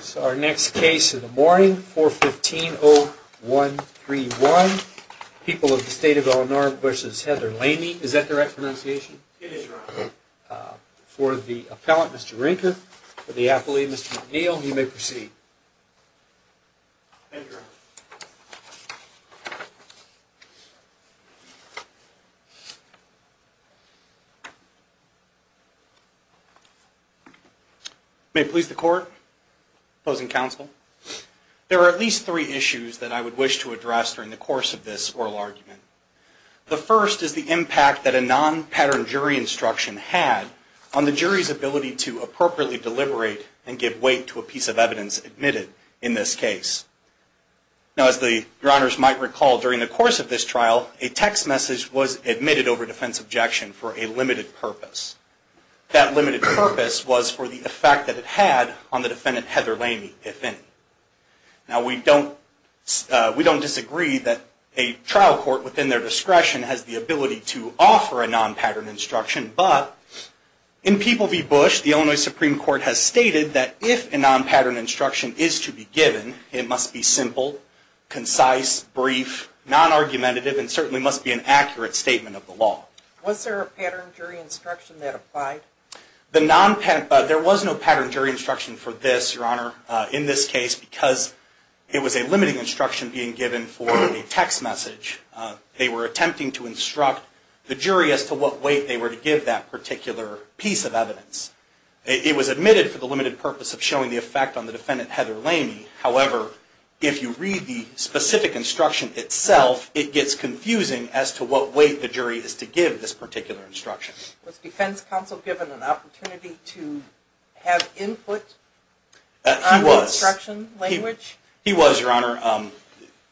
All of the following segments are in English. So our next case of the morning, 415-0131, People of the State of Illinois v. Heather Lamie. Is that the right pronunciation? It is, Your Honor. For the appellant, Mr. Rinker, for the appellee, Mr. McNeil, you may proceed. Thank you, Your Honor. May it please the Court, opposing counsel, there are at least three issues that I would wish to address during the course of this oral argument. The first is the impact that a non-pattern jury instruction had on the jury's ability to appropriately deliberate and give weight to a piece of evidence admitted in this case. Now, as Your Honors might recall, during the course of this trial, a text message was admitted over defense objection for a limited purpose. That limited purpose was for the effect that it had on the defendant, Heather Lamie, if any. Now, we don't disagree that a trial court, within their discretion, has the ability to offer a non-pattern instruction. But, in People v. Bush, the Illinois Supreme Court has stated that if a non-pattern instruction is to be given, it must be simple, concise, brief, non-argumentative, and certainly must be an accurate statement of the law. Was there a pattern jury instruction that applied? There was no pattern jury instruction for this, Your Honor, in this case, because it was a limiting instruction being given for a text message. They were attempting to instruct the jury as to what weight they were to give that particular piece of evidence. It was admitted for the limited purpose of showing the effect on the defendant, Heather Lamie. However, if you read the specific instruction itself, it gets confusing as to what weight the jury is to give this particular instruction. Was defense counsel given an opportunity to have input on the instruction language? He was, Your Honor.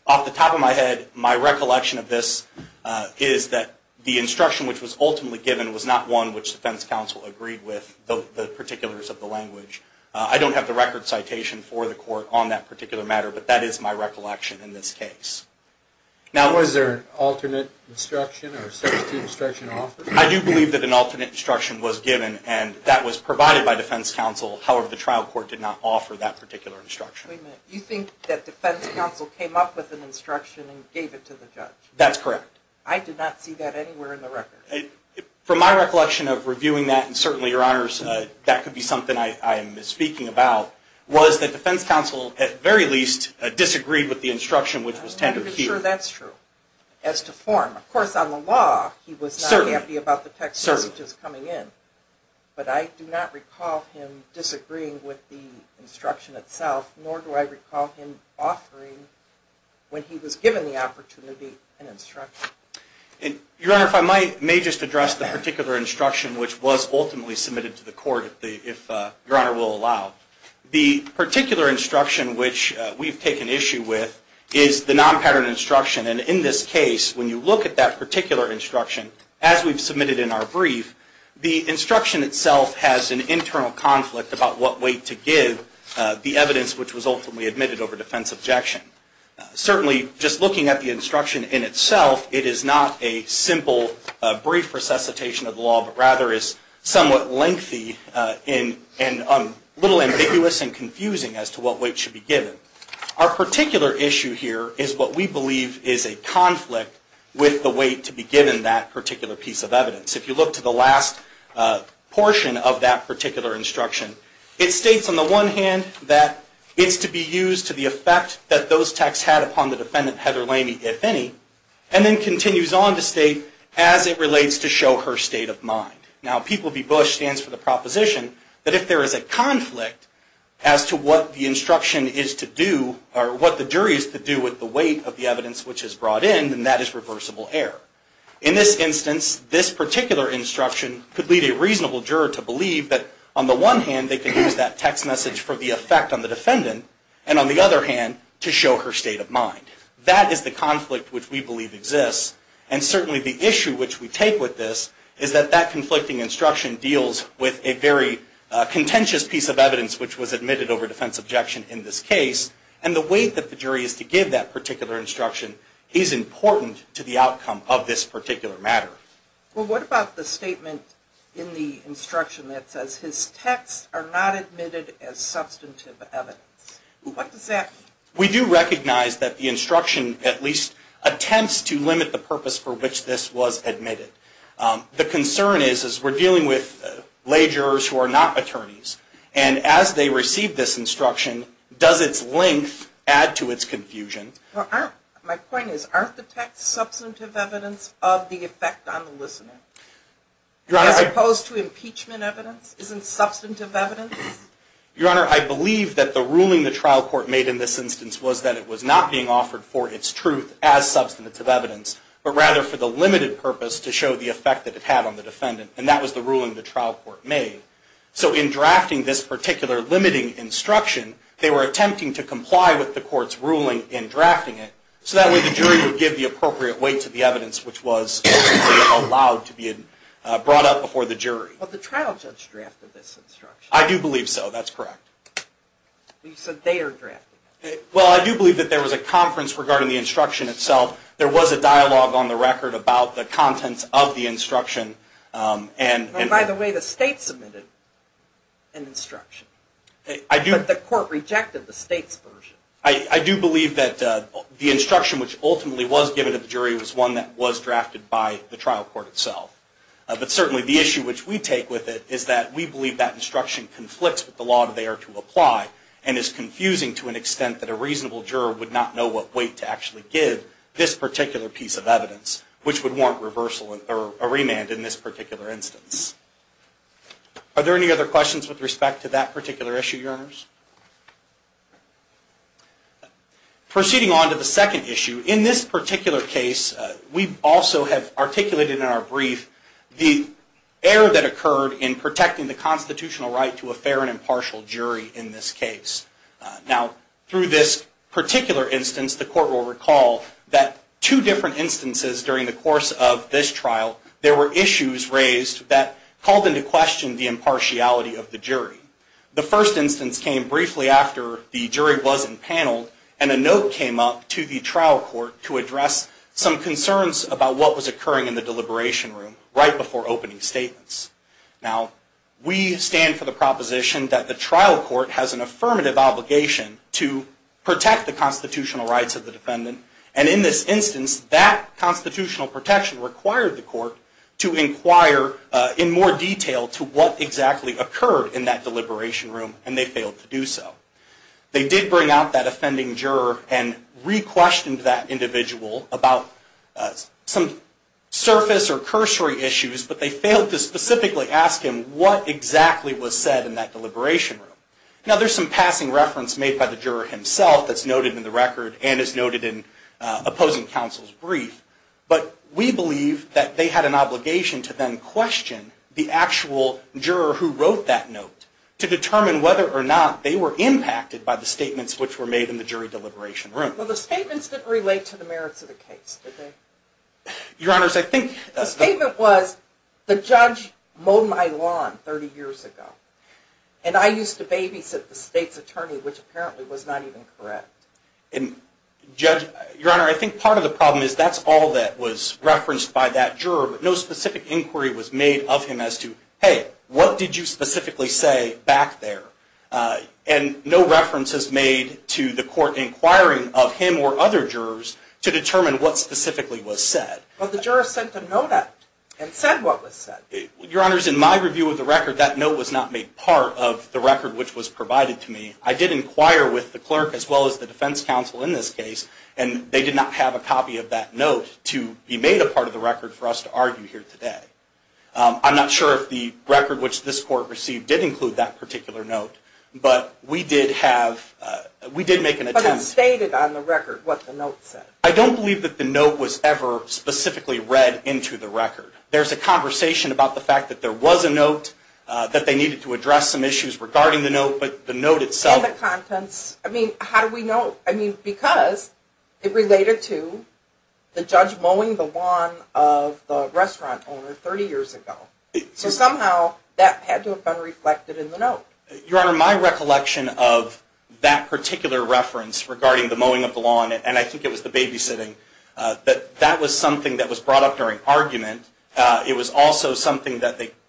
Off the top of my head, my recollection of this is that the instruction which was ultimately given was not one which defense counsel agreed with the particulars of the language. I don't have the record citation for the court on that particular matter, but that is my recollection in this case. Now, was there an alternate instruction or substitute instruction offered? I do believe that an alternate instruction was given, and that was provided by defense counsel. However, the trial court did not offer that particular instruction. Wait a minute. You think that defense counsel came up with an instruction and gave it to the judge? That's correct. I did not see that anywhere in the record. From my recollection of reviewing that, and certainly, Your Honors, that could be something I am misspeaking about, was that defense counsel, at the very least, disagreed with the instruction which was tendered here. I'm not even sure that's true as to form. Of course, on the law, he was not happy about the text messages coming in, but I do not recall him disagreeing with the instruction itself, nor do I recall him offering, when he was given the opportunity, an instruction. Your Honor, if I may just address the particular instruction which was ultimately submitted to the court, if Your Honor will allow. The particular instruction which we've taken issue with is the non-pattern instruction, and in this case, when you look at that particular instruction, as we've submitted in our brief, the instruction itself has an internal conflict about what weight to give the evidence which was ultimately admitted over defense objection. Certainly, just looking at the instruction in itself, it is not a simple brief resuscitation of the law, but rather is somewhat lengthy and a little ambiguous and confusing as to what weight should be given. Our particular issue here is what we believe is a conflict with the weight to be given that particular piece of evidence. If you look to the last portion of that particular instruction, it states, on the one hand, that it's to be used to the effect that those texts had upon the defendant, Heather Lamey, if any, and then continues on to state, as it relates to show her state of mind. Now, P. B. Bush stands for the proposition that if there is a conflict as to what the instruction is to do, or what the jury is to do with the weight of the evidence which is brought in, then that is reversible error. In this instance, this particular instruction could lead a reasonable juror to believe that, on the one hand, they could use that text message for the effect on the defendant, and on the other hand, to show her state of mind. That is the conflict which we believe exists, and certainly the issue which we take with this is that that conflicting instruction deals with a very contentious piece of evidence which was admitted over defense objection in this case, and the weight that the jury is to give that particular instruction is important to the outcome of this particular matter. Well, what about the statement in the instruction that says, his texts are not admitted as substantive evidence? What does that mean? We do recognize that the instruction, at least, attempts to limit the purpose for which this was admitted. The concern is, is we're dealing with lay jurors who are not attorneys, and as they receive this instruction, does its length add to its confusion? My point is, aren't the texts substantive evidence of the effect on the listener? Your Honor... As opposed to impeachment evidence? Isn't substantive evidence? Your Honor, I believe that the ruling the trial court made in this instance was that it was not being offered for its truth as substantive evidence, but rather for the limited purpose to show the effect that it had on the defendant, and that was the ruling the trial court made. So in drafting this particular limiting instruction, they were attempting to comply with the court's ruling in drafting it, so that way the jury would give the appropriate weight to the evidence which was allowed to be brought up before the jury. But the trial judge drafted this instruction. I do believe so. That's correct. You said they are drafting it. Well, I do believe that there was a conference regarding the instruction itself. There was a dialogue on the record about the contents of the instruction and... By the way, the state submitted an instruction. I do... But the court rejected the state's version. I do believe that the instruction which ultimately was given to the jury was one that was drafted by the trial court itself. But certainly the issue which we take with it is that we believe that instruction conflicts with the law that they are to apply and is confusing to an extent that a reasonable juror would not know what weight to actually give this particular piece of evidence, which would warrant a remand in this particular instance. Are there any other questions with respect to that particular issue, Your Honors? Proceeding on to the second issue, in this particular case, we also have articulated in our brief the error that occurred in protecting the constitutional right to a fair and impartial jury in this case. Now, through this particular instance, the court will recall that two different instances during the course of this trial, there were issues raised that called into question the impartiality of the jury. The first instance came briefly after the jury was impaneled, and a note came up to the trial court to address some concerns about what was occurring in the deliberation room right before opening statements. Now, we stand for the proposition that the trial court has an affirmative obligation to protect the constitutional rights of the defendant, and in this instance, that constitutional protection required the court to inquire in more detail to what exactly occurred in that deliberation room, and they failed to do so. They did bring out that offending juror and re-questioned that individual about some surface or cursory issues, but they failed to specifically ask him what exactly was said in that deliberation room. Now, there's some passing reference made by the juror himself that's noted in the record and is noted in opposing counsel's brief, but we believe that they had an obligation to then question the actual juror who wrote that note to determine whether or not they were impacted by the statements which were made in the jury deliberation room. Well, the statements didn't relate to the merits of the case, did they? Your Honor, I think... The statement was, the judge mowed my lawn 30 years ago, and I used to babysit the state's attorney, which apparently was not even correct. Your Honor, I think part of the problem is that's all that was referenced by that juror, but no specific inquiry was made of him as to, hey, what did you specifically say back there? And no reference is made to the court inquiring of him or other jurors to determine what specifically was said. Well, the juror sent a note out and said what was said. Your Honor, in my review of the record, that note was not made part of the record which was provided to me. I did inquire with the clerk as well as the defense counsel in this case, and they did not have a copy of that note to be made a part of the record for us to argue here today. I'm not sure if the record which this court received did include that particular note, but we did have... But it stated on the record what the note said. I don't believe that the note was ever specifically read into the record. There's a conversation about the fact that there was a note, that they needed to address some issues regarding the note, but the note itself... And the contents. I mean, how do we know? I mean, because it related to the judge mowing the lawn of the restaurant owner 30 years ago. So somehow that had to have been reflected in the note. Your Honor, my recollection of that particular reference regarding the mowing of the lawn, and I think it was the babysitting, that that was something that was brought up during argument. It was also something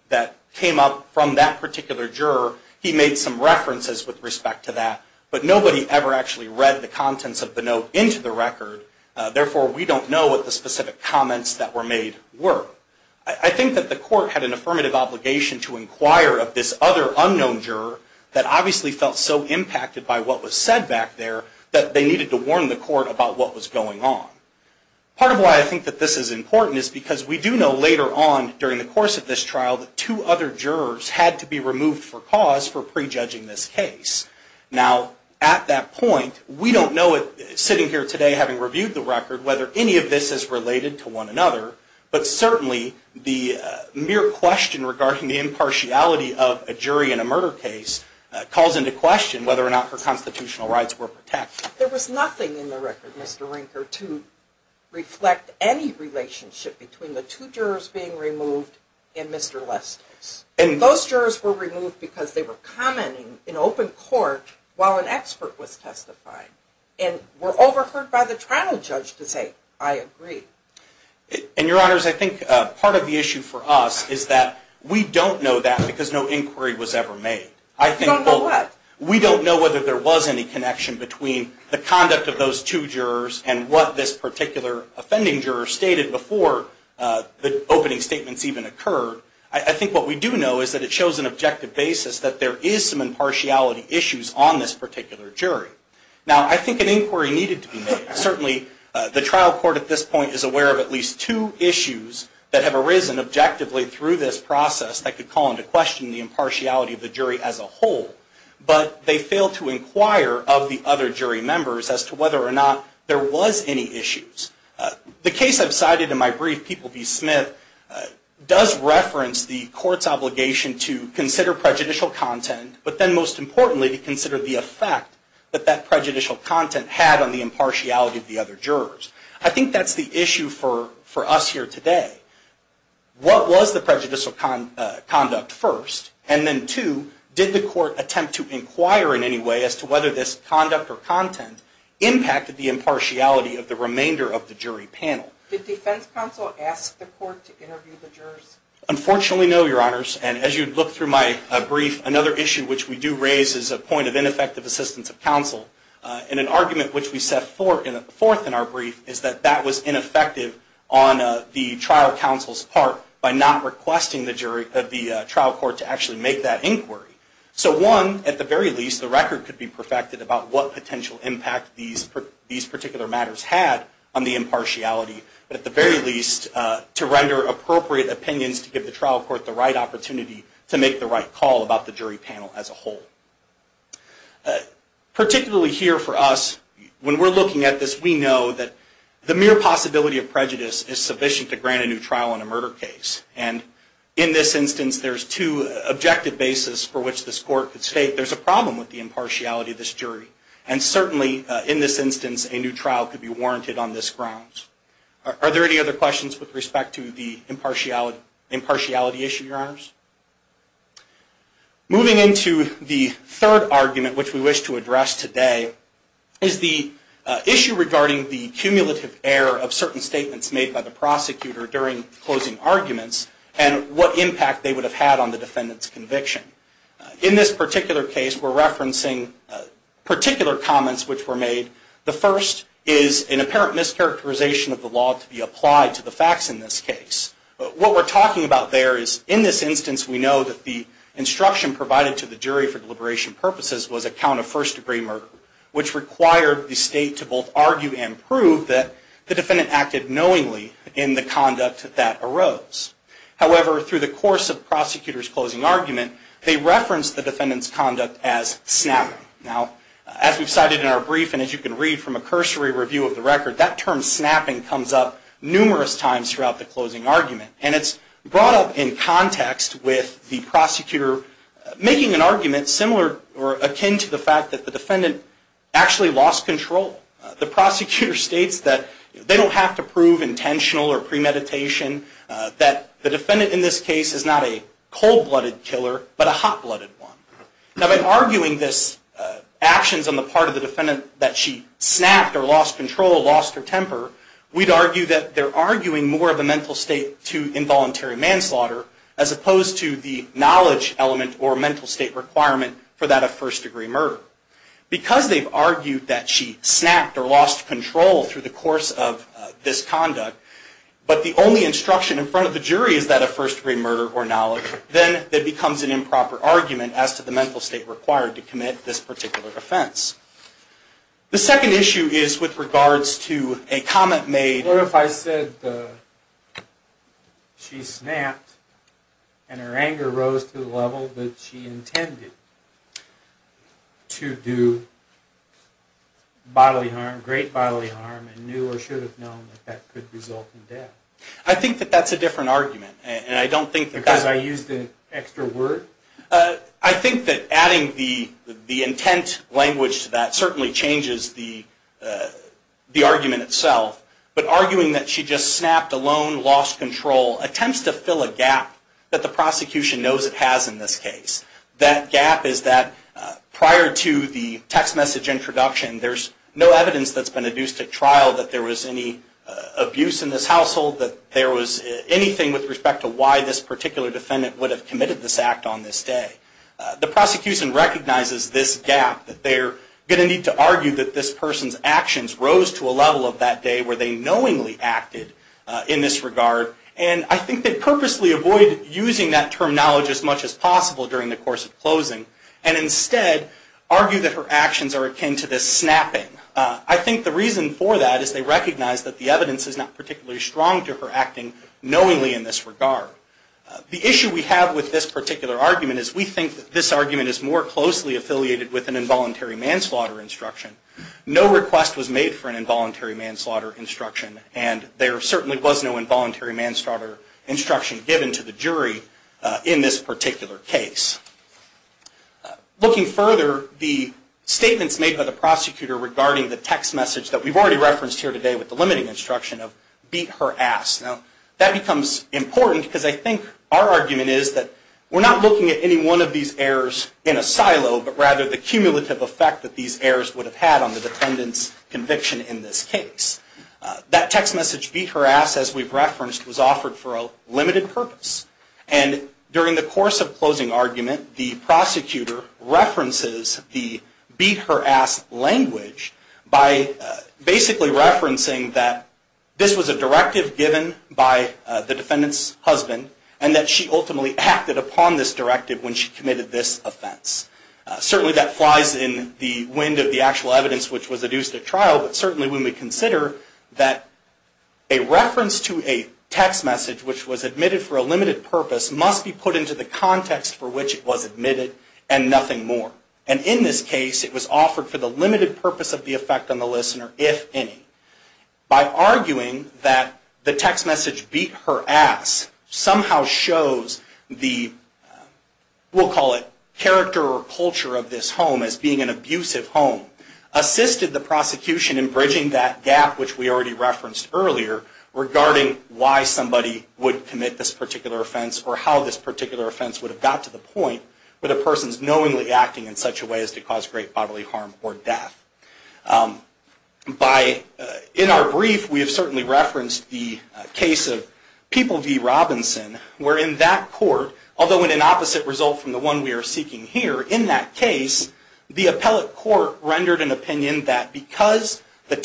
that came up from that particular juror. He made some references with respect to that, but nobody ever actually read the contents of the note into the record. Therefore, we don't know what the specific comments that were made were. I think that the court had an affirmative obligation to inquire of this other unknown juror that obviously felt so impacted by what was said back there that they needed to warn the court about what was going on. Part of why I think that this is important is because we do know later on during the course of this trial that two other jurors had to be removed for cause for prejudging this case. Now, at that point, we don't know sitting here today having reviewed the record whether any of this is related to one another, but certainly the mere question regarding the impartiality of a jury in a murder case calls into question whether or not her constitutional rights were protected. There was nothing in the record, Mr. Rinker, to reflect any relationship between the two jurors being removed and Mr. Lesters. Those jurors were removed because they were commenting in open court while an expert was testifying and were overheard by the trial judge to say, I agree. Your Honors, I think part of the issue for us is that we don't know that because no inquiry was ever made. You don't know what? We don't know whether there was any connection between the conduct of those two jurors and what this particular offending juror stated before the opening statements even occurred. I think what we do know is that it shows an objective basis that there is some impartiality issues on this particular jury. Now, I think an inquiry needed to be made. Certainly, the trial court at this point is aware of at least two issues that have arisen objectively through this process that could call into question the impartiality of the jury as a whole, but they failed to inquire of the other jury members as to whether or not there was any issues. The case I've cited in my brief, People v. Smith, does reference the court's obligation to consider prejudicial content, but then most importantly to consider the effect that that prejudicial content had on the impartiality of the other jurors. I think that's the issue for us here today. What was the prejudicial conduct first? And then two, did the court attempt to inquire in any way as to whether this conduct or content impacted the impartiality of the remainder of the jury panel? Did defense counsel ask the court to interview the jurors? Unfortunately, no, Your Honors. And as you look through my brief, another issue which we do raise is a point of ineffective assistance of counsel. And an argument which we set forth in our brief is that that was ineffective on the trial counsel's part by not requesting the trial court to actually make that inquiry. So one, at the very least, the record could be perfected about what potential impact these particular matters had on the impartiality, but at the very least, to render appropriate opinions to give the trial court the right opportunity to make the right call about the jury panel as a whole. Particularly here for us, when we're looking at this, we know that the mere possibility of prejudice is sufficient to grant a new trial in a murder case. And in this instance, there's two objective bases for which this court could state there's a problem with the impartiality of this jury. And certainly, in this instance, a new trial could be warranted on this grounds. Are there any other questions with respect to the impartiality issue, Your Honors? Moving into the third argument which we wish to address today is the issue regarding the cumulative error of certain statements made by the prosecutor during closing arguments and what impact they would have had on the defendant's conviction. In this particular case, we're referencing particular comments which were made. The first is an apparent mischaracterization of the law to be applied to the facts in this case. What we're talking about there is, in this instance, we know that the instruction provided to the jury for deliberation purposes was a count of first-degree murder, which required the state to both argue and prove that the defendant acted knowingly in the conduct that arose. However, through the course of the prosecutor's closing argument, they referenced the defendant's conduct as snapping. Now, as we've cited in our brief and as you can read from a cursory review of the record, that term snapping comes up numerous times throughout the closing argument. And it's brought up in context with the prosecutor making an argument similar or akin to the fact that the defendant actually lost control. The prosecutor states that they don't have to prove intentional or premeditation, that the defendant in this case is not a cold-blooded killer but a hot-blooded one. Now, by arguing this actions on the part of the defendant that she snapped or lost control, lost her temper, we'd argue that they're arguing more of a mental state to involuntary manslaughter as opposed to the knowledge element or mental state requirement for that of first-degree murder. Because they've argued that she snapped or lost control through the course of this conduct, but the only instruction in front of the jury is that of first-degree murder or knowledge, then it becomes an improper argument as to the mental state required to commit this particular offense. The second issue is with regards to a comment made... What if I said she snapped and her anger rose to the level that she intended to do bodily harm, great bodily harm and knew or should have known that that could result in death? I think that that's a different argument. And I don't think that... Because I used an extra word? I think that adding the intent language to that certainly changes the argument itself. But arguing that she just snapped alone, lost control, attempts to fill a gap that the prosecution knows it has in this case. That gap is that prior to the text message introduction, there's no evidence that's been adduced at trial that there was any abuse in this household, that there was anything with respect to why this particular defendant would have committed this act on this day. The prosecution recognizes this gap, that they're going to need to argue that this person's actions rose to a level of that day where they knowingly acted in this regard. And I think they purposely avoid using that terminology as much as possible during the course of closing and instead argue that her actions are akin to this snapping. I think the reason for that is they recognize that the evidence is not particularly strong to her acting knowingly in this regard. The issue we have with this particular argument is we think that this argument is more closely affiliated with an involuntary manslaughter instruction. No request was made for an involuntary manslaughter instruction and there certainly was no involuntary manslaughter instruction given to the jury in this particular case. Looking further, the statements made by the prosecutor regarding the text message that we've already referenced here today with the limiting instruction of beat her ass. Now, that becomes important because I think our argument is that we're not looking at any one of these errors in a silo, but rather the cumulative effect that these errors would have had on the defendant's conviction in this case. That text message, beat her ass, as we've referenced, was offered for a limited purpose. And during the course of closing argument, the prosecutor references the beat her ass language by basically referencing that this was a directive given by the defendant's husband and that she ultimately acted upon this directive when she committed this offense. Certainly that flies in the wind of the actual evidence which was adduced at trial, but certainly when we consider that a reference to a text message which was admitted for a limited purpose must be put into the context for which it was admitted and nothing more. And in this case, it was offered for the limited purpose of the effect on the listener, if any. By arguing that the text message beat her ass somehow shows the, we'll call it, character or culture of this home as being an abusive home, assisted the prosecution in bridging that gap which we already referenced earlier regarding why somebody would commit this particular offense or how this particular offense would have got to the point where the person is knowingly acting in such a way as to cause great bodily harm or death. In our brief, we have certainly referenced the case of People v. Robinson where in that court, the appellate court rendered an opinion that because the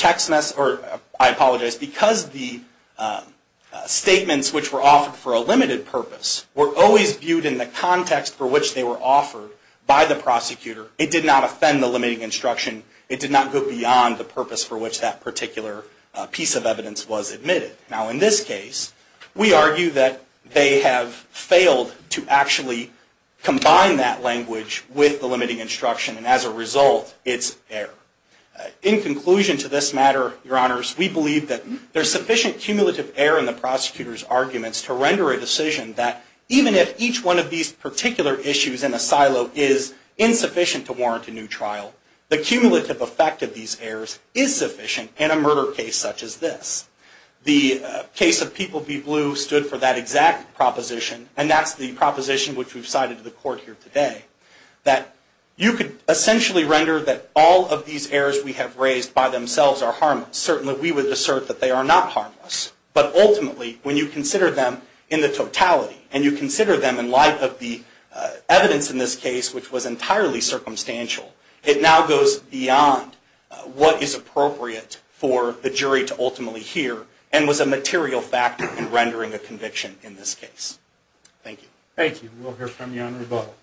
statements which were offered for a limited purpose were always viewed in the context for which they were offered by the prosecutor, it did not offend the limiting instruction. It did not go beyond the purpose for which that particular piece of evidence was admitted. Now in this case, we argue that they have failed to actually combine that language with the limiting instruction and as a result, it's error. In conclusion to this matter, Your Honors, we believe that there's sufficient cumulative error in the prosecutor's arguments to render a decision that even if each one of these particular issues in a silo is insufficient to warrant a new trial, the cumulative effect of these errors is sufficient in a murder case such as this. The case of People v. Blue stood for that exact proposition and that's the proposition which we've cited to the court here today that you could essentially render that all of these errors we have raised by themselves are harmless. Certainly, we would assert that they are not harmless, but ultimately when you consider them in the totality and you consider them in light of the evidence in this case which was entirely circumstantial, it now goes beyond what is appropriate for the jury to ultimately hear and was a material factor in rendering a conviction in this case. Thank you. Thank you. We'll hear from you on rebuttal.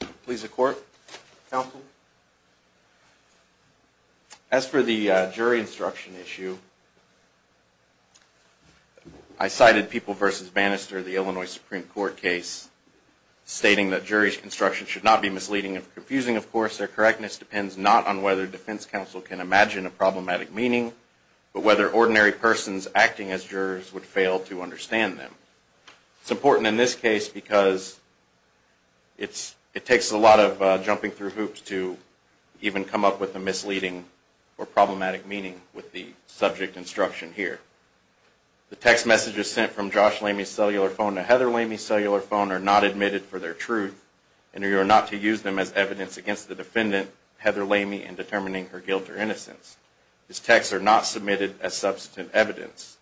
Thank you. Please, the court. Counsel. As for the jury instruction issue, I cited People v. Bannister, the Illinois Supreme Court case, stating that jury's instruction should not be misleading and confusing. Of course, their correctness depends not on whether defense counsel can imagine a problematic meaning, but whether ordinary persons acting as jurors would fail to understand them. It's important in this case because it takes a lot of jumping through hoops to even come up with a misleading or problematic meaning with the subject instruction here. The text messages sent from Josh Lamey's cellular phone to Heather Lamey's cellular phone are not admitted for their truth, and you are not to use them as evidence against the defendant, Heather Lamey, in determining her guilt or innocence. These texts are not submitted as substantive evidence.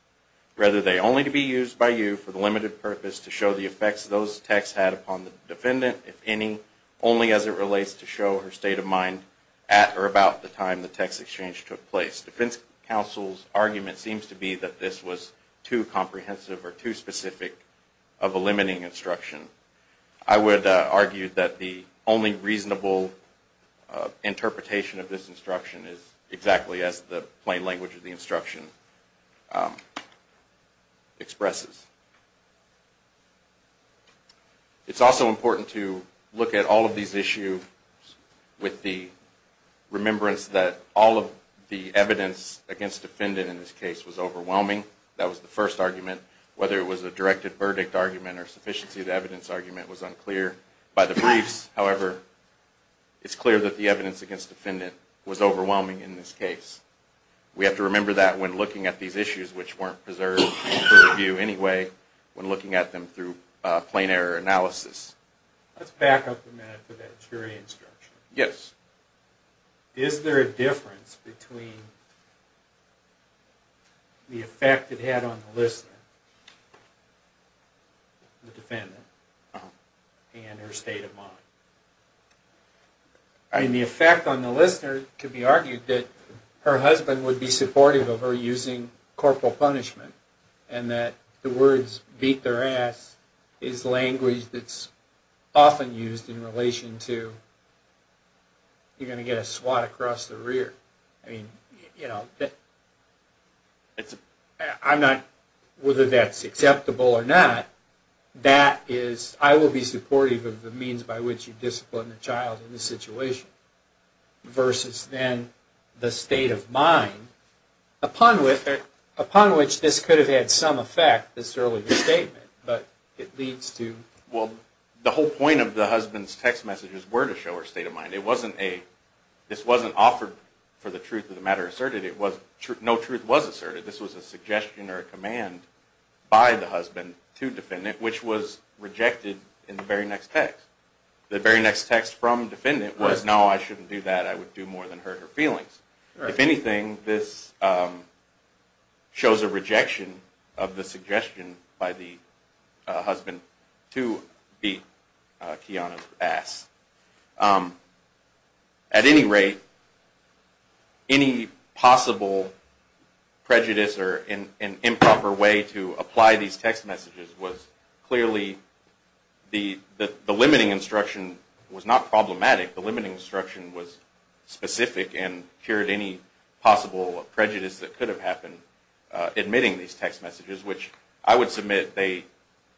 Rather, they are only to be used by you for the limited purpose to show the effects those texts had upon the defendant, if any, only as it relates to show her state of mind at or about the time the text exchange took place. Defense counsel's argument seems to be that this was too comprehensive or too specific of a limiting instruction. I would argue that the only reasonable interpretation of this instruction is exactly as the plain language of the instruction expresses. It's also important to look at all of these issues with the remembrance that all of the evidence against the defendant in this case was overwhelming. That was the first argument. Whether it was a directed verdict argument or a sufficiency of evidence argument was unclear. By the briefs, however, it's clear that the evidence against the defendant was overwhelming in this case. We have to remember that when looking at these issues, which weren't preserved for review anyway, when looking at them through plain error analysis... Let's back up a minute to that jury instruction. Yes. Is there a difference between the effect it had on the listener, the defendant, and her state of mind? The effect on the listener could be argued that her husband would be supportive of her using corporal punishment and that the words, beat their ass, is language that's often used in relation to, you're going to get a swat across the rear. Whether that's acceptable or not, I will be supportive of the means by which you discipline a child in this situation versus then the state of mind, upon which this could have had some effect, this earlier statement, but it leads to... Well, the whole point of the husband's text messages were to show her state of mind. This wasn't offered for the truth of the matter asserted. No truth was asserted. This was a suggestion or a command by the husband to defendant, which was rejected in the very next text. The very next text from defendant was, no, I shouldn't do that. I would do more than hurt her feelings. If anything, this shows a rejection of the suggestion by the husband to beat Kiana's ass. At any rate, any possible prejudice or improper way to apply these text messages was clearly... The limiting instruction was not problematic. The limiting instruction was specific and cured any possible prejudice that could have happened, admitting these text messages, which I would submit they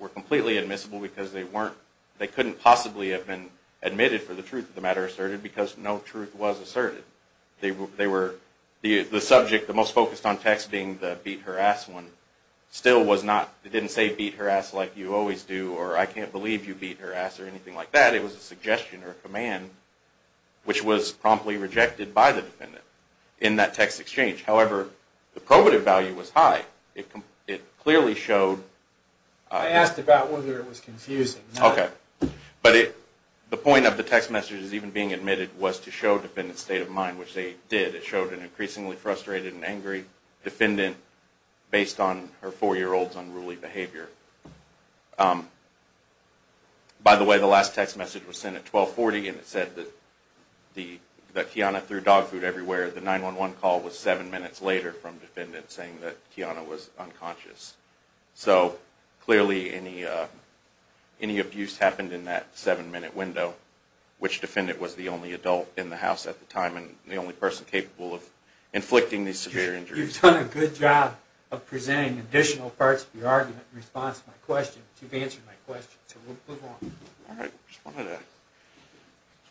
were completely admissible because they couldn't possibly have been admitted for the truth of the matter asserted because no truth was asserted. The subject, the most focused on text being the beat her ass one, still didn't say beat her ass like you always do or I can't believe you beat her ass or anything like that. It was a suggestion or a command, which was promptly rejected by the defendant in that text exchange. However, the probative value was high. It clearly showed... I asked about whether it was confusing. Okay. But the point of the text messages even being admitted was to show defendant's state of mind, which they did. It showed an increasingly frustrated and angry defendant based on her four-year-old's unruly behavior. By the way, the last text message was sent at 12.40 and it said that Kiana threw dog food everywhere. The 911 call was seven minutes later from defendant saying that Kiana was unconscious. So clearly any abuse happened in that seven-minute window, which defendant was the only adult in the house at the time and the only person capable of inflicting these severe injuries. You've done a good job of presenting additional parts of your argument in response to my question. You've answered my question, so we'll move on. All right. I just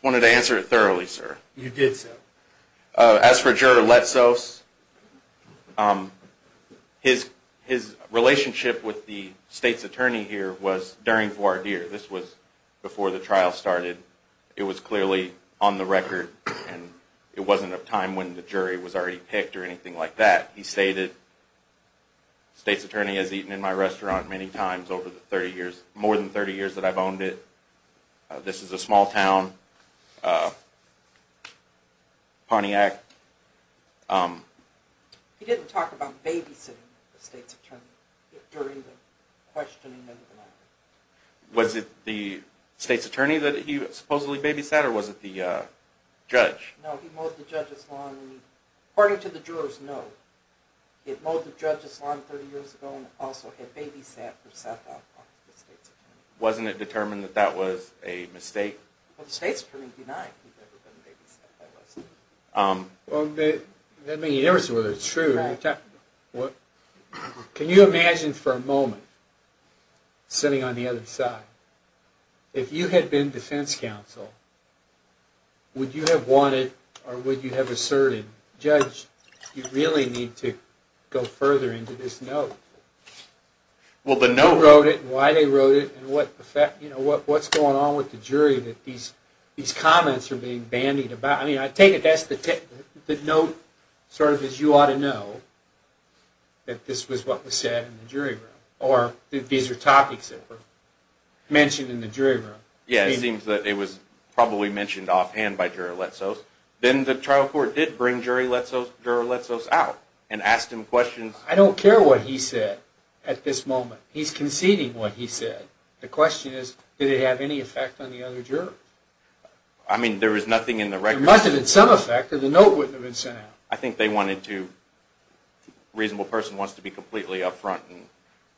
wanted to answer it thoroughly, sir. You did, sir. As for Juror Letzos, his relationship with the state's attorney here was during voir dire. This was before the trial started. It was clearly on the record and it wasn't a time when the jury was already picked or anything like that. He stated, the state's attorney has eaten in my restaurant many times over the 30 years, more than 30 years that I've owned it. This is a small town. Pontiac. He didn't talk about babysitting the state's attorney during the questioning. Was it the state's attorney that he supposedly babysat or was it the judge? No, he mowed the judge's lawn. According to the juror's note, he had mowed the judge's lawn 30 years ago and also had babysat or set up the state's attorney. Wasn't it determined that that was a mistake? Well, the state's attorney denied he'd ever been babysat by the state's attorney. Well, it doesn't make any difference whether it's true or not. Can you imagine for a moment, sitting on the other side, if you had been defense counsel, would you have wanted or would you have asserted, Judge, you really need to go further into this note. Well, the note... Who wrote it and why they wrote it and what's going on with the jury that these comments are being bandied about. I mean, I take it that's the note, sort of as you ought to know, that this was what was said in the jury room. Or that these are topics that were mentioned in the jury room. Yeah, it seems that it was probably mentioned offhand by Juror Letzos. Then the trial court did bring Juror Letzos out and asked him questions. I don't care what he said at this moment. He's conceding what he said. The question is, did it have any effect on the other jurors? I mean, there was nothing in the record... There must have been some effect or the note wouldn't have been sent out. I think they wanted to... a reasonable person wants to be completely up front and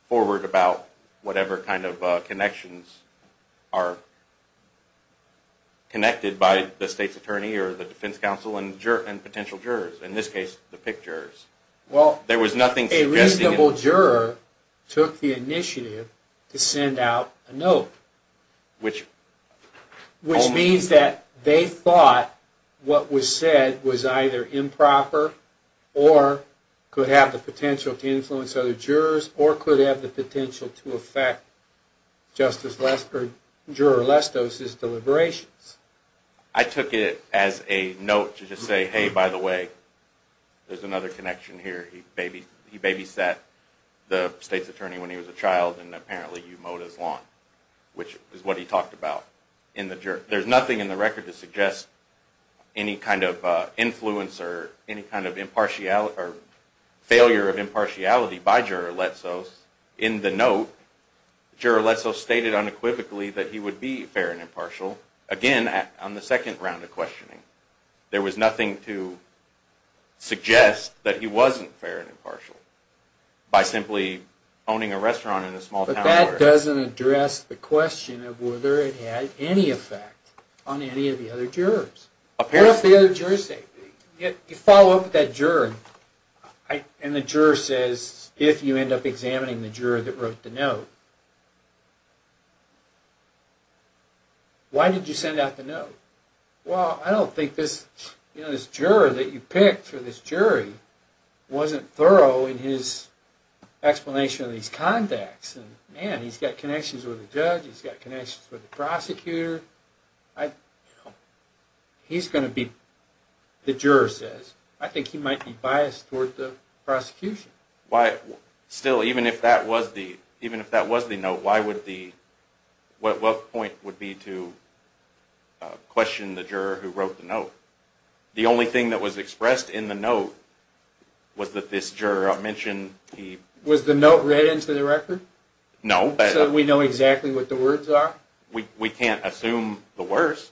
forward about whatever kind of connections are connected by the state's attorney or the defense counsel and potential jurors. In this case, the picked jurors. Well, a reasonable juror took the initiative to send out a note. Which means that they thought what was said was either improper or could have the potential to influence other jurors or could have the potential to affect Juror Letzos' deliberations. I took it as a note to just say, hey, by the way, there's another connection here. He babysat the state's attorney when he was a child and apparently you mowed his lawn, which is what he talked about. There's nothing in the record to suggest any kind of influence or any kind of failure of impartiality by Juror Letzos. In the note, Juror Letzos stated unequivocally that he would be fair and impartial. Again, on the second round of questioning, there was nothing to suggest that he wasn't fair and impartial by simply owning a restaurant in a small town. But that doesn't address the question of whether it had any effect on any of the other jurors. What does the other jurors say? You follow up with that juror and the juror says, if you end up examining the juror that wrote the note, why did you send out the note? Well, I don't think this juror that you picked for this jury wasn't thorough in his explanation of these contacts. Man, he's got connections with the judge, he's got connections with the prosecutor. He's going to be, the juror says, I think he might be biased toward the prosecution. Still, even if that was the note, what point would be to question the juror who wrote the note? The only thing that was expressed in the note was that this juror mentioned he... Was the note read into the record? No. So we know exactly what the words are? We can't assume the worst.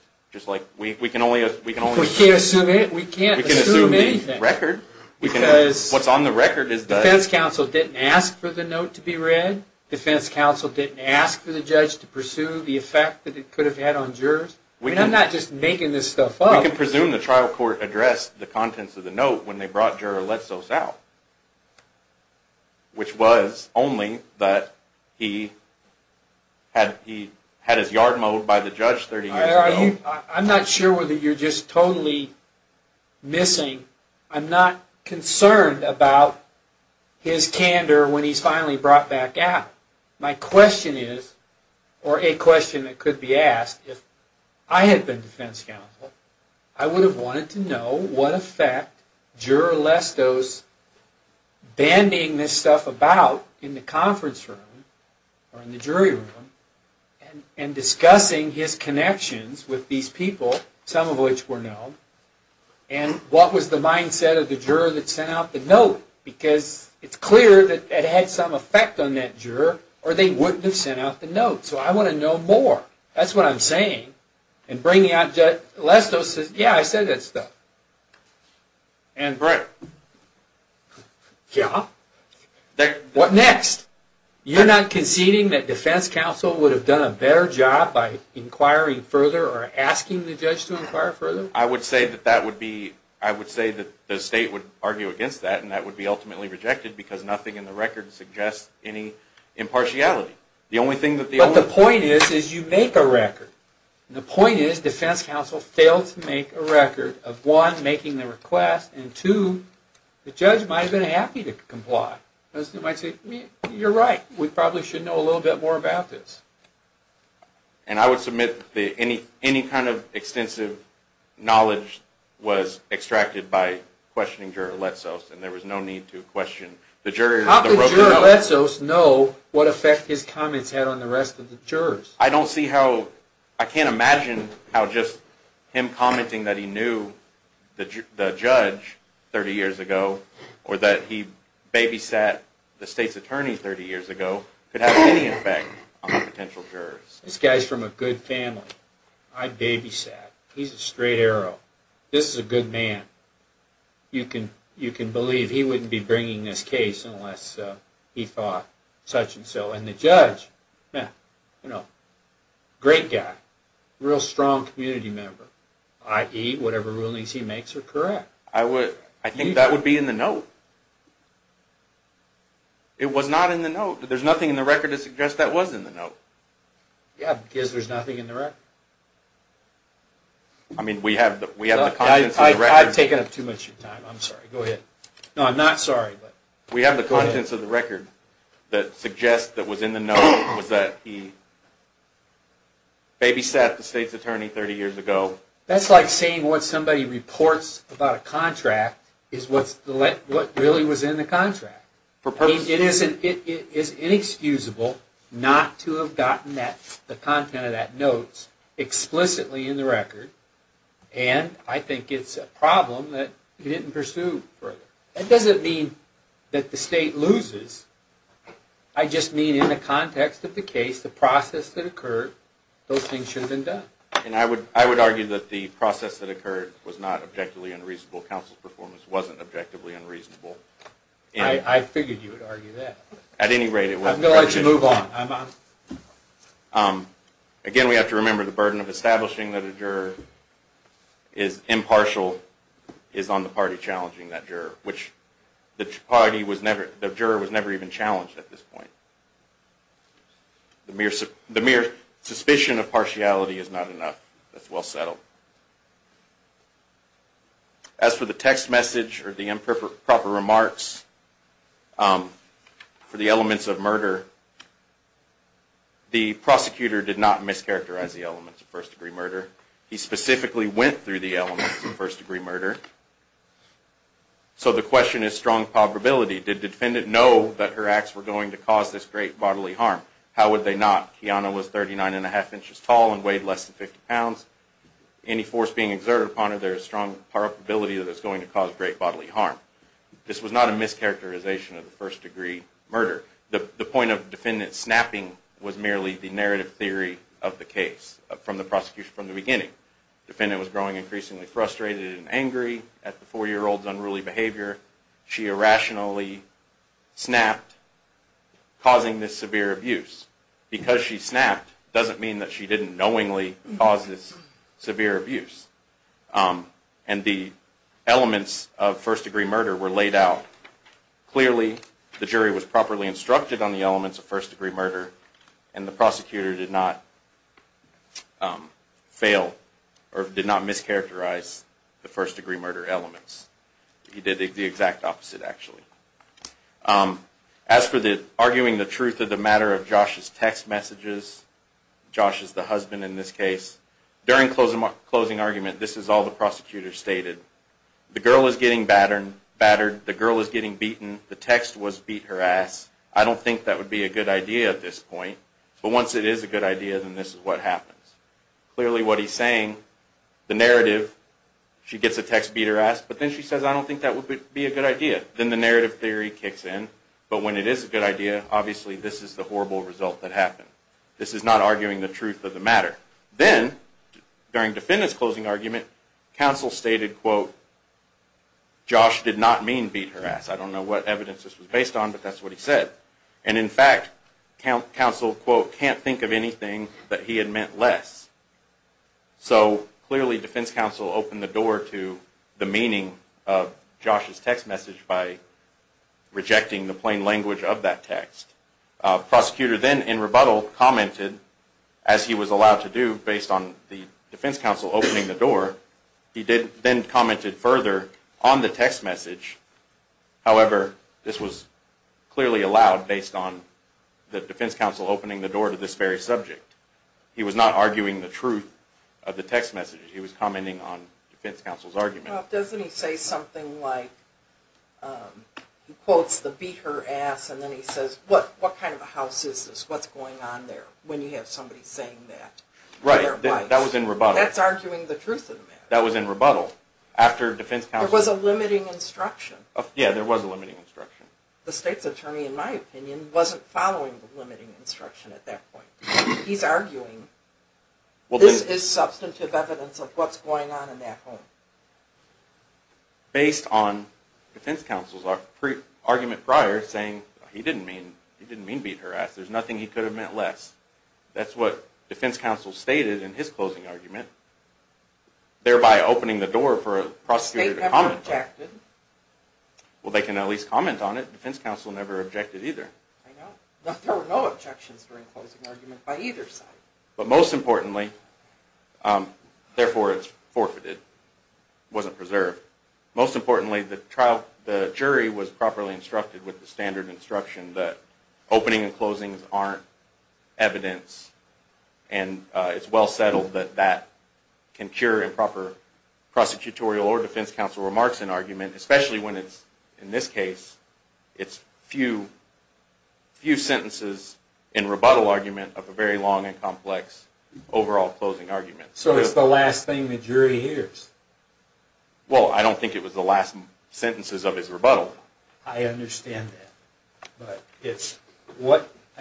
We can't assume it. We can't assume anything. What's on the record is that... Defense counsel didn't ask for the note to be read. Defense counsel didn't ask for the judge to pursue the effect that it could have had on jurors. I'm not just making this stuff up. We can presume the trial court addressed the contents of the note when they brought juror Letzos out. Which was only that he had his yard mowed by the judge 30 years ago. I'm not sure whether you're just totally missing. I'm not concerned about his candor when he's finally brought back out. My question is, or a question that could be asked, if I had been defense counsel, I would have wanted to know what effect juror Letzos banding this stuff about in the conference room, or in the jury room, and discussing his connections with these people, some of which were known, and what was the mindset of the juror that sent out the note? Because it's clear that it had some effect on that juror, or they wouldn't have sent out the note. So I want to know more. That's what I'm saying. And bringing out Judge Letzos says, yeah, I said that stuff. And Brett? Yeah? What next? You're not conceding that defense counsel would have done a better job by inquiring further, or asking the judge to inquire further? I would say that the state would argue against that, and that would be ultimately rejected, because nothing in the record suggests any impartiality. But the point is, is you make a record. And the point is, defense counsel failed to make a record of, one, making the request, and two, the judge might have been happy to comply. They might say, you're right, we probably should know a little bit more about this. And I would submit any kind of extensive knowledge was extracted by questioning Juror Letzos, and there was no need to question the jurors that wrote the note. How could Juror Letzos know what effect his comments had on the rest of the jurors? I don't see how. I can't imagine how just him commenting that he knew the judge 30 years ago, or that he babysat the state's attorney 30 years ago, could have any effect on the potential jurors. This guy's from a good family. I babysat. He's a straight arrow. This is a good man. You can believe he wouldn't be bringing this case unless he thought such and so. And the judge, you know, great guy. Real strong community member. I.e., whatever rulings he makes are correct. I think that would be in the note. It was not in the note. There's nothing in the record to suggest that was in the note. Yeah, because there's nothing in the record. I mean, we have the contents of the record. I've taken up too much of your time. I'm sorry. Go ahead. No, I'm not sorry. We have the contents of the record that suggest that was in the note was that he babysat the state's attorney 30 years ago. That's like saying what somebody reports about a contract is what really was in the contract. It is inexcusable not to have gotten the content of that note explicitly in the record. And I think it's a problem that he didn't pursue further. That doesn't mean that the state loses. I just mean in the context of the case, the process that occurred, those things should have been done. And I would argue that the process that occurred was not objectively unreasonable. Counsel's performance wasn't objectively unreasonable. I figured you would argue that. At any rate, it was. I'm going to let you move on. Again, we have to remember the burden of establishing that a juror is impartial is on the party challenging that juror, which the jury was never even challenged at this point. The mere suspicion of partiality is not enough. That's well settled. As for the text message or the improper remarks for the elements of murder, the prosecutor did not mischaracterize the elements of first degree murder. He specifically went through the elements of first degree murder. So the question is strong probability. Did the defendant know that her acts were going to cause this great bodily harm? How would they not? Kiana was 39 and a half inches tall and weighed less than 50 pounds. Any force being exerted upon her, there is strong probability that it's going to cause great bodily harm. This was not a mischaracterization of the first degree murder. The point of the defendant snapping was merely the narrative theory of the case from the prosecution from the beginning. The defendant was growing increasingly frustrated and angry at the four-year-old's unruly behavior. She irrationally snapped, causing this severe abuse. Because she snapped doesn't mean that she didn't knowingly cause this severe abuse. And the elements of first degree murder were laid out clearly. The jury was properly instructed on the elements of first degree murder, and the prosecutor did not fail or did not mischaracterize the first degree murder elements. He did the exact opposite, actually. As for arguing the truth of the matter of Josh's text messages, Josh is the husband in this case. During closing argument, this is all the prosecutor stated. The girl is getting battered. The girl is getting beaten. The text was beat her ass. I don't think that would be a good idea at this point. But once it is a good idea, then this is what happens. Clearly what he's saying, the narrative, she gets a text beat her ass, but then she says, I don't think that would be a good idea. Then the narrative theory kicks in. But when it is a good idea, obviously this is the horrible result that happened. This is not arguing the truth of the matter. Then, during defendant's closing argument, counsel stated, Josh did not mean beat her ass. I don't know what evidence this was based on, but that's what he said. And in fact, counsel, quote, can't think of anything that he had meant less. So clearly defense counsel opened the door to the meaning of Josh's text message by rejecting the plain language of that text. Prosecutor then, in rebuttal, commented, as he was allowed to do, based on the defense counsel opening the door. He then commented further on the text message. However, this was clearly allowed based on the defense counsel opening the door to this very subject. He was not arguing the truth of the text message. He was commenting on defense counsel's argument. Well, doesn't he say something like, he quotes the beat her ass, and then he says, what kind of a house is this? What's going on there? When you have somebody saying that. Right, that was in rebuttal. That's arguing the truth of the matter. That was in rebuttal. There was a limiting instruction. Yeah, there was a limiting instruction. The state's attorney, in my opinion, wasn't following the limiting instruction at that point. He's arguing, this is substantive evidence of what's going on in that home. Based on defense counsel's argument prior, saying he didn't mean beat her ass, there's nothing he could have meant less. That's what defense counsel stated in his closing argument, thereby opening the door for a prosecutor to comment on. The state never objected. Well, they can at least comment on it. Defense counsel never objected either. There were no objections during the closing argument by either side. But most importantly, therefore it's forfeited. It wasn't preserved. Most importantly, the jury was properly instructed with the standard instruction that opening and closings aren't evidence, and it's well settled that that can cure improper prosecutorial or defense counsel remarks in argument, especially when it's, in this case, it's few sentences in rebuttal argument of a very long and complex overall closing argument. So it's the last thing the jury hears. Well, I don't think it was the last sentences of his rebuttal. I understand that.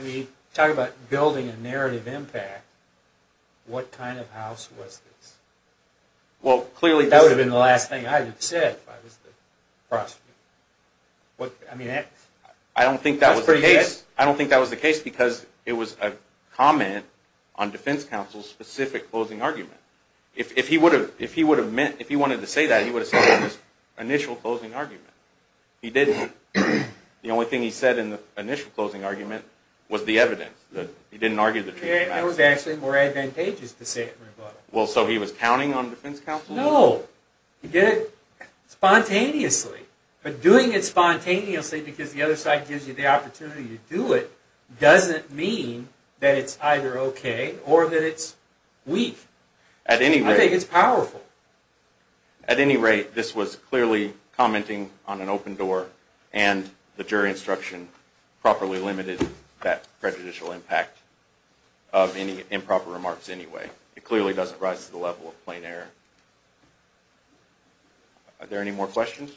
You talk about building a narrative impact. What kind of house was this? That would have been the last thing I would have said if I was the prosecutor. I don't think that was the case, because it was a comment on defense counsel's specific closing argument. If he wanted to say that, he would have said it in his initial closing argument. He didn't. The only thing he said in the initial closing argument was the evidence. He didn't argue the truth of the matter. It was actually more advantageous to say it in rebuttal. So he was counting on defense counsel? No. He did it spontaneously. But doing it spontaneously because the other side gives you the opportunity to do it doesn't mean that it's either okay or that it's weak. I think it's powerful. At any rate, this was clearly commenting on an open door, and the jury instruction properly limited that prejudicial impact of any improper remarks anyway. It clearly doesn't rise to the level of plain error. Are there any more questions?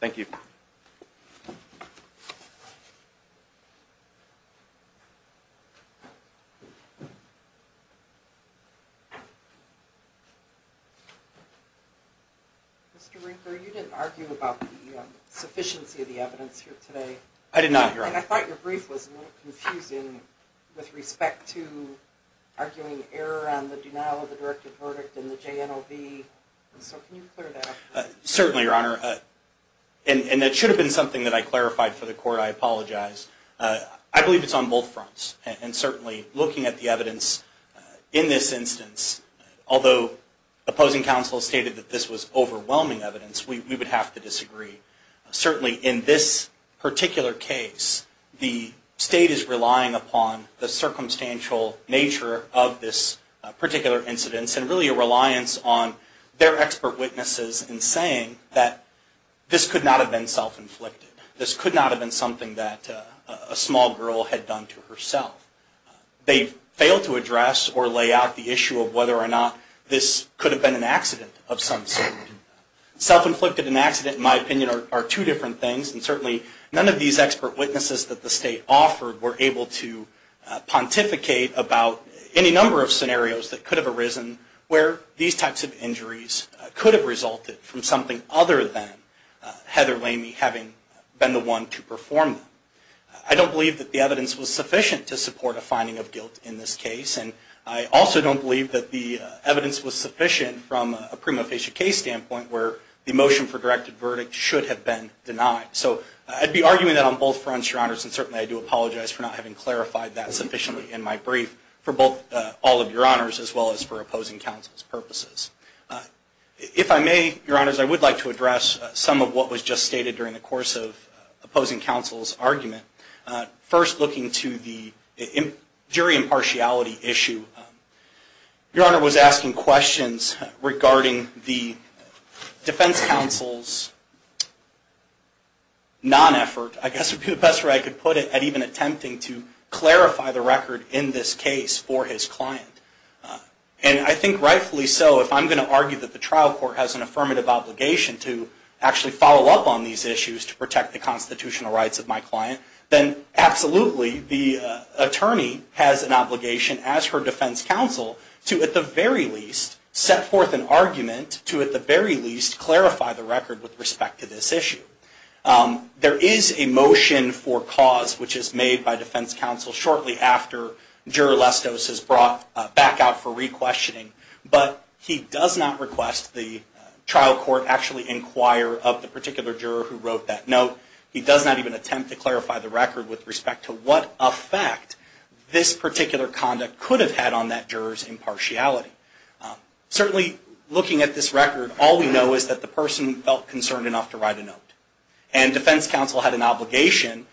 Thank you. Mr. Rinker, you didn't argue about the sufficiency of the evidence here today. I did not, Your Honor. I thought your brief was a little confusing with respect to arguing error on the denial of the directed verdict in the JNLV. So can you clear that up? Certainly, Your Honor. And it should have been something that I clarified for the court. I apologize. I believe it's on both fronts, and certainly looking at the evidence in this instance, although opposing counsel stated that this was overwhelming evidence, we would have to disagree. Certainly in this particular case, the state is relying upon the circumstantial nature of this particular incidence and really a reliance on their expert witnesses in saying that this could not have been self-inflicted. This could not have been something that a small girl had done to herself. They failed to address or lay out the issue of whether or not this could have been an accident of some sort. Self-inflicted and accident, in my opinion, are two different things, and certainly none of these expert witnesses that the state offered were able to pontificate about any number of scenarios that could have arisen where these types of injuries could have resulted from something other than Heather Lamy having been the one to perform them. I don't believe that the evidence was sufficient to support a finding of guilt in this case, and I also don't believe that the evidence was sufficient from a prima facie case standpoint where the motion for directed verdict should have been denied. So I'd be arguing that on both fronts, Your Honors, and certainly I do apologize for not having clarified that sufficiently in my brief for both all of Your Honors as well as for opposing counsel's purposes. If I may, Your Honors, I would like to address some of what was just stated during the course of opposing counsel's argument. First, looking to the jury impartiality issue, Your Honor was asking questions regarding the defense counsel's non-effort, I guess would be the best way I could put it, at even attempting to clarify the record in this case for his client. And I think rightfully so, if I'm going to argue that the trial court has an affirmative obligation to actually follow up on these issues to protect the constitutional rights of my client, then absolutely the attorney has an obligation as her defense counsel to at the very least set forth an argument to at the very least clarify the record with respect to this issue. There is a motion for cause which is made by defense counsel shortly after Juror Lestos is brought back out for re-questioning, but he does not request the trial court actually inquire of the particular juror who wrote that note. He does not even attempt to clarify the record with respect to what effect this particular conduct could have had on that juror's impartiality. Certainly looking at this record, all we know is that the person felt concerned enough to write a note. And defense counsel had an obligation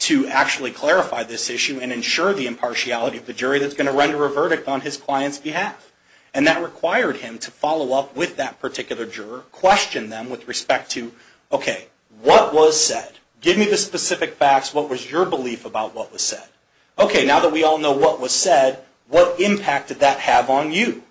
to actually clarify this issue and ensure the impartiality of the jury that's going to render a verdict on his client's behalf. And that required him to follow up with that particular juror, question them with respect to, okay, what was said? Give me the specific facts. What was your belief about what was said? Okay, now that we all know what was said, what impact did that have on you?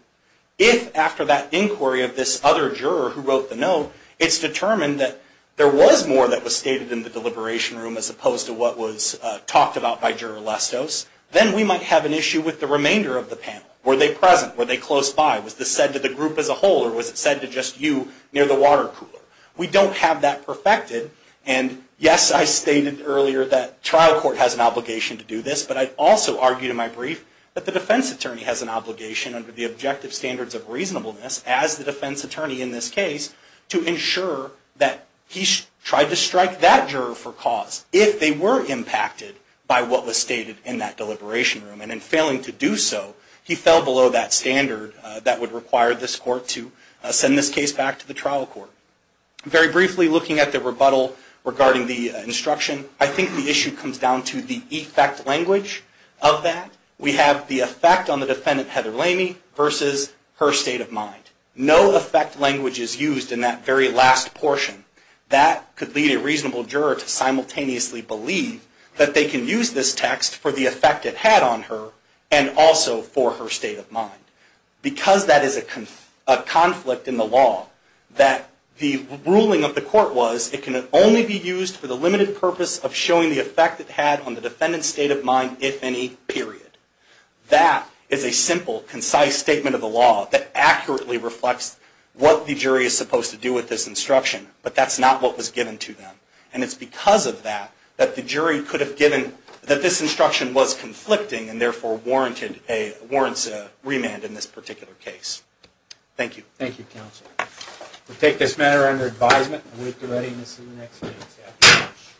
If after that inquiry of this other juror who wrote the note, it's determined that there was more that was stated in the deliberation room as opposed to what was talked about by Juror Lestos, then we might have an issue with the remainder of the panel. Were they present? Were they close by? Was this said to the group as a whole? Or was it said to just you near the water cooler? We don't have that perfected. And yes, I stated earlier that trial court has an obligation to do this, but I also argued in my brief that the defense attorney has an obligation under the objective standards of reasonableness as the defense attorney in this case to ensure that he tried to strike that juror for cause if they were impacted by what was stated in that deliberation room. And in failing to do so, he fell below that standard that would require this court to send this case back to the trial court. Very briefly, looking at the rebuttal regarding the instruction, I think the issue comes down to the effect language of that. We have the effect on the defendant, Heather Lamey, versus her state of mind. No effect language is used in that very last portion. That could lead a reasonable juror to simultaneously believe that they can use this text for the effect it had on her and also for her state of mind. Because that is a conflict in the law, that the ruling of the court was it can only be used for the limited purpose of showing the effect it had on the defendant's state of mind, if any, period. That is a simple, concise statement of the law that accurately reflects what the jury is supposed to do with this instruction. But that's not what was given to them. And it's because of that that the jury could have given that this instruction was conflicting and therefore warrants a remand in this particular case. Thank you. Thank you, counsel. We'll take this matter under advisement and await the readiness of the next case. Thank you very much.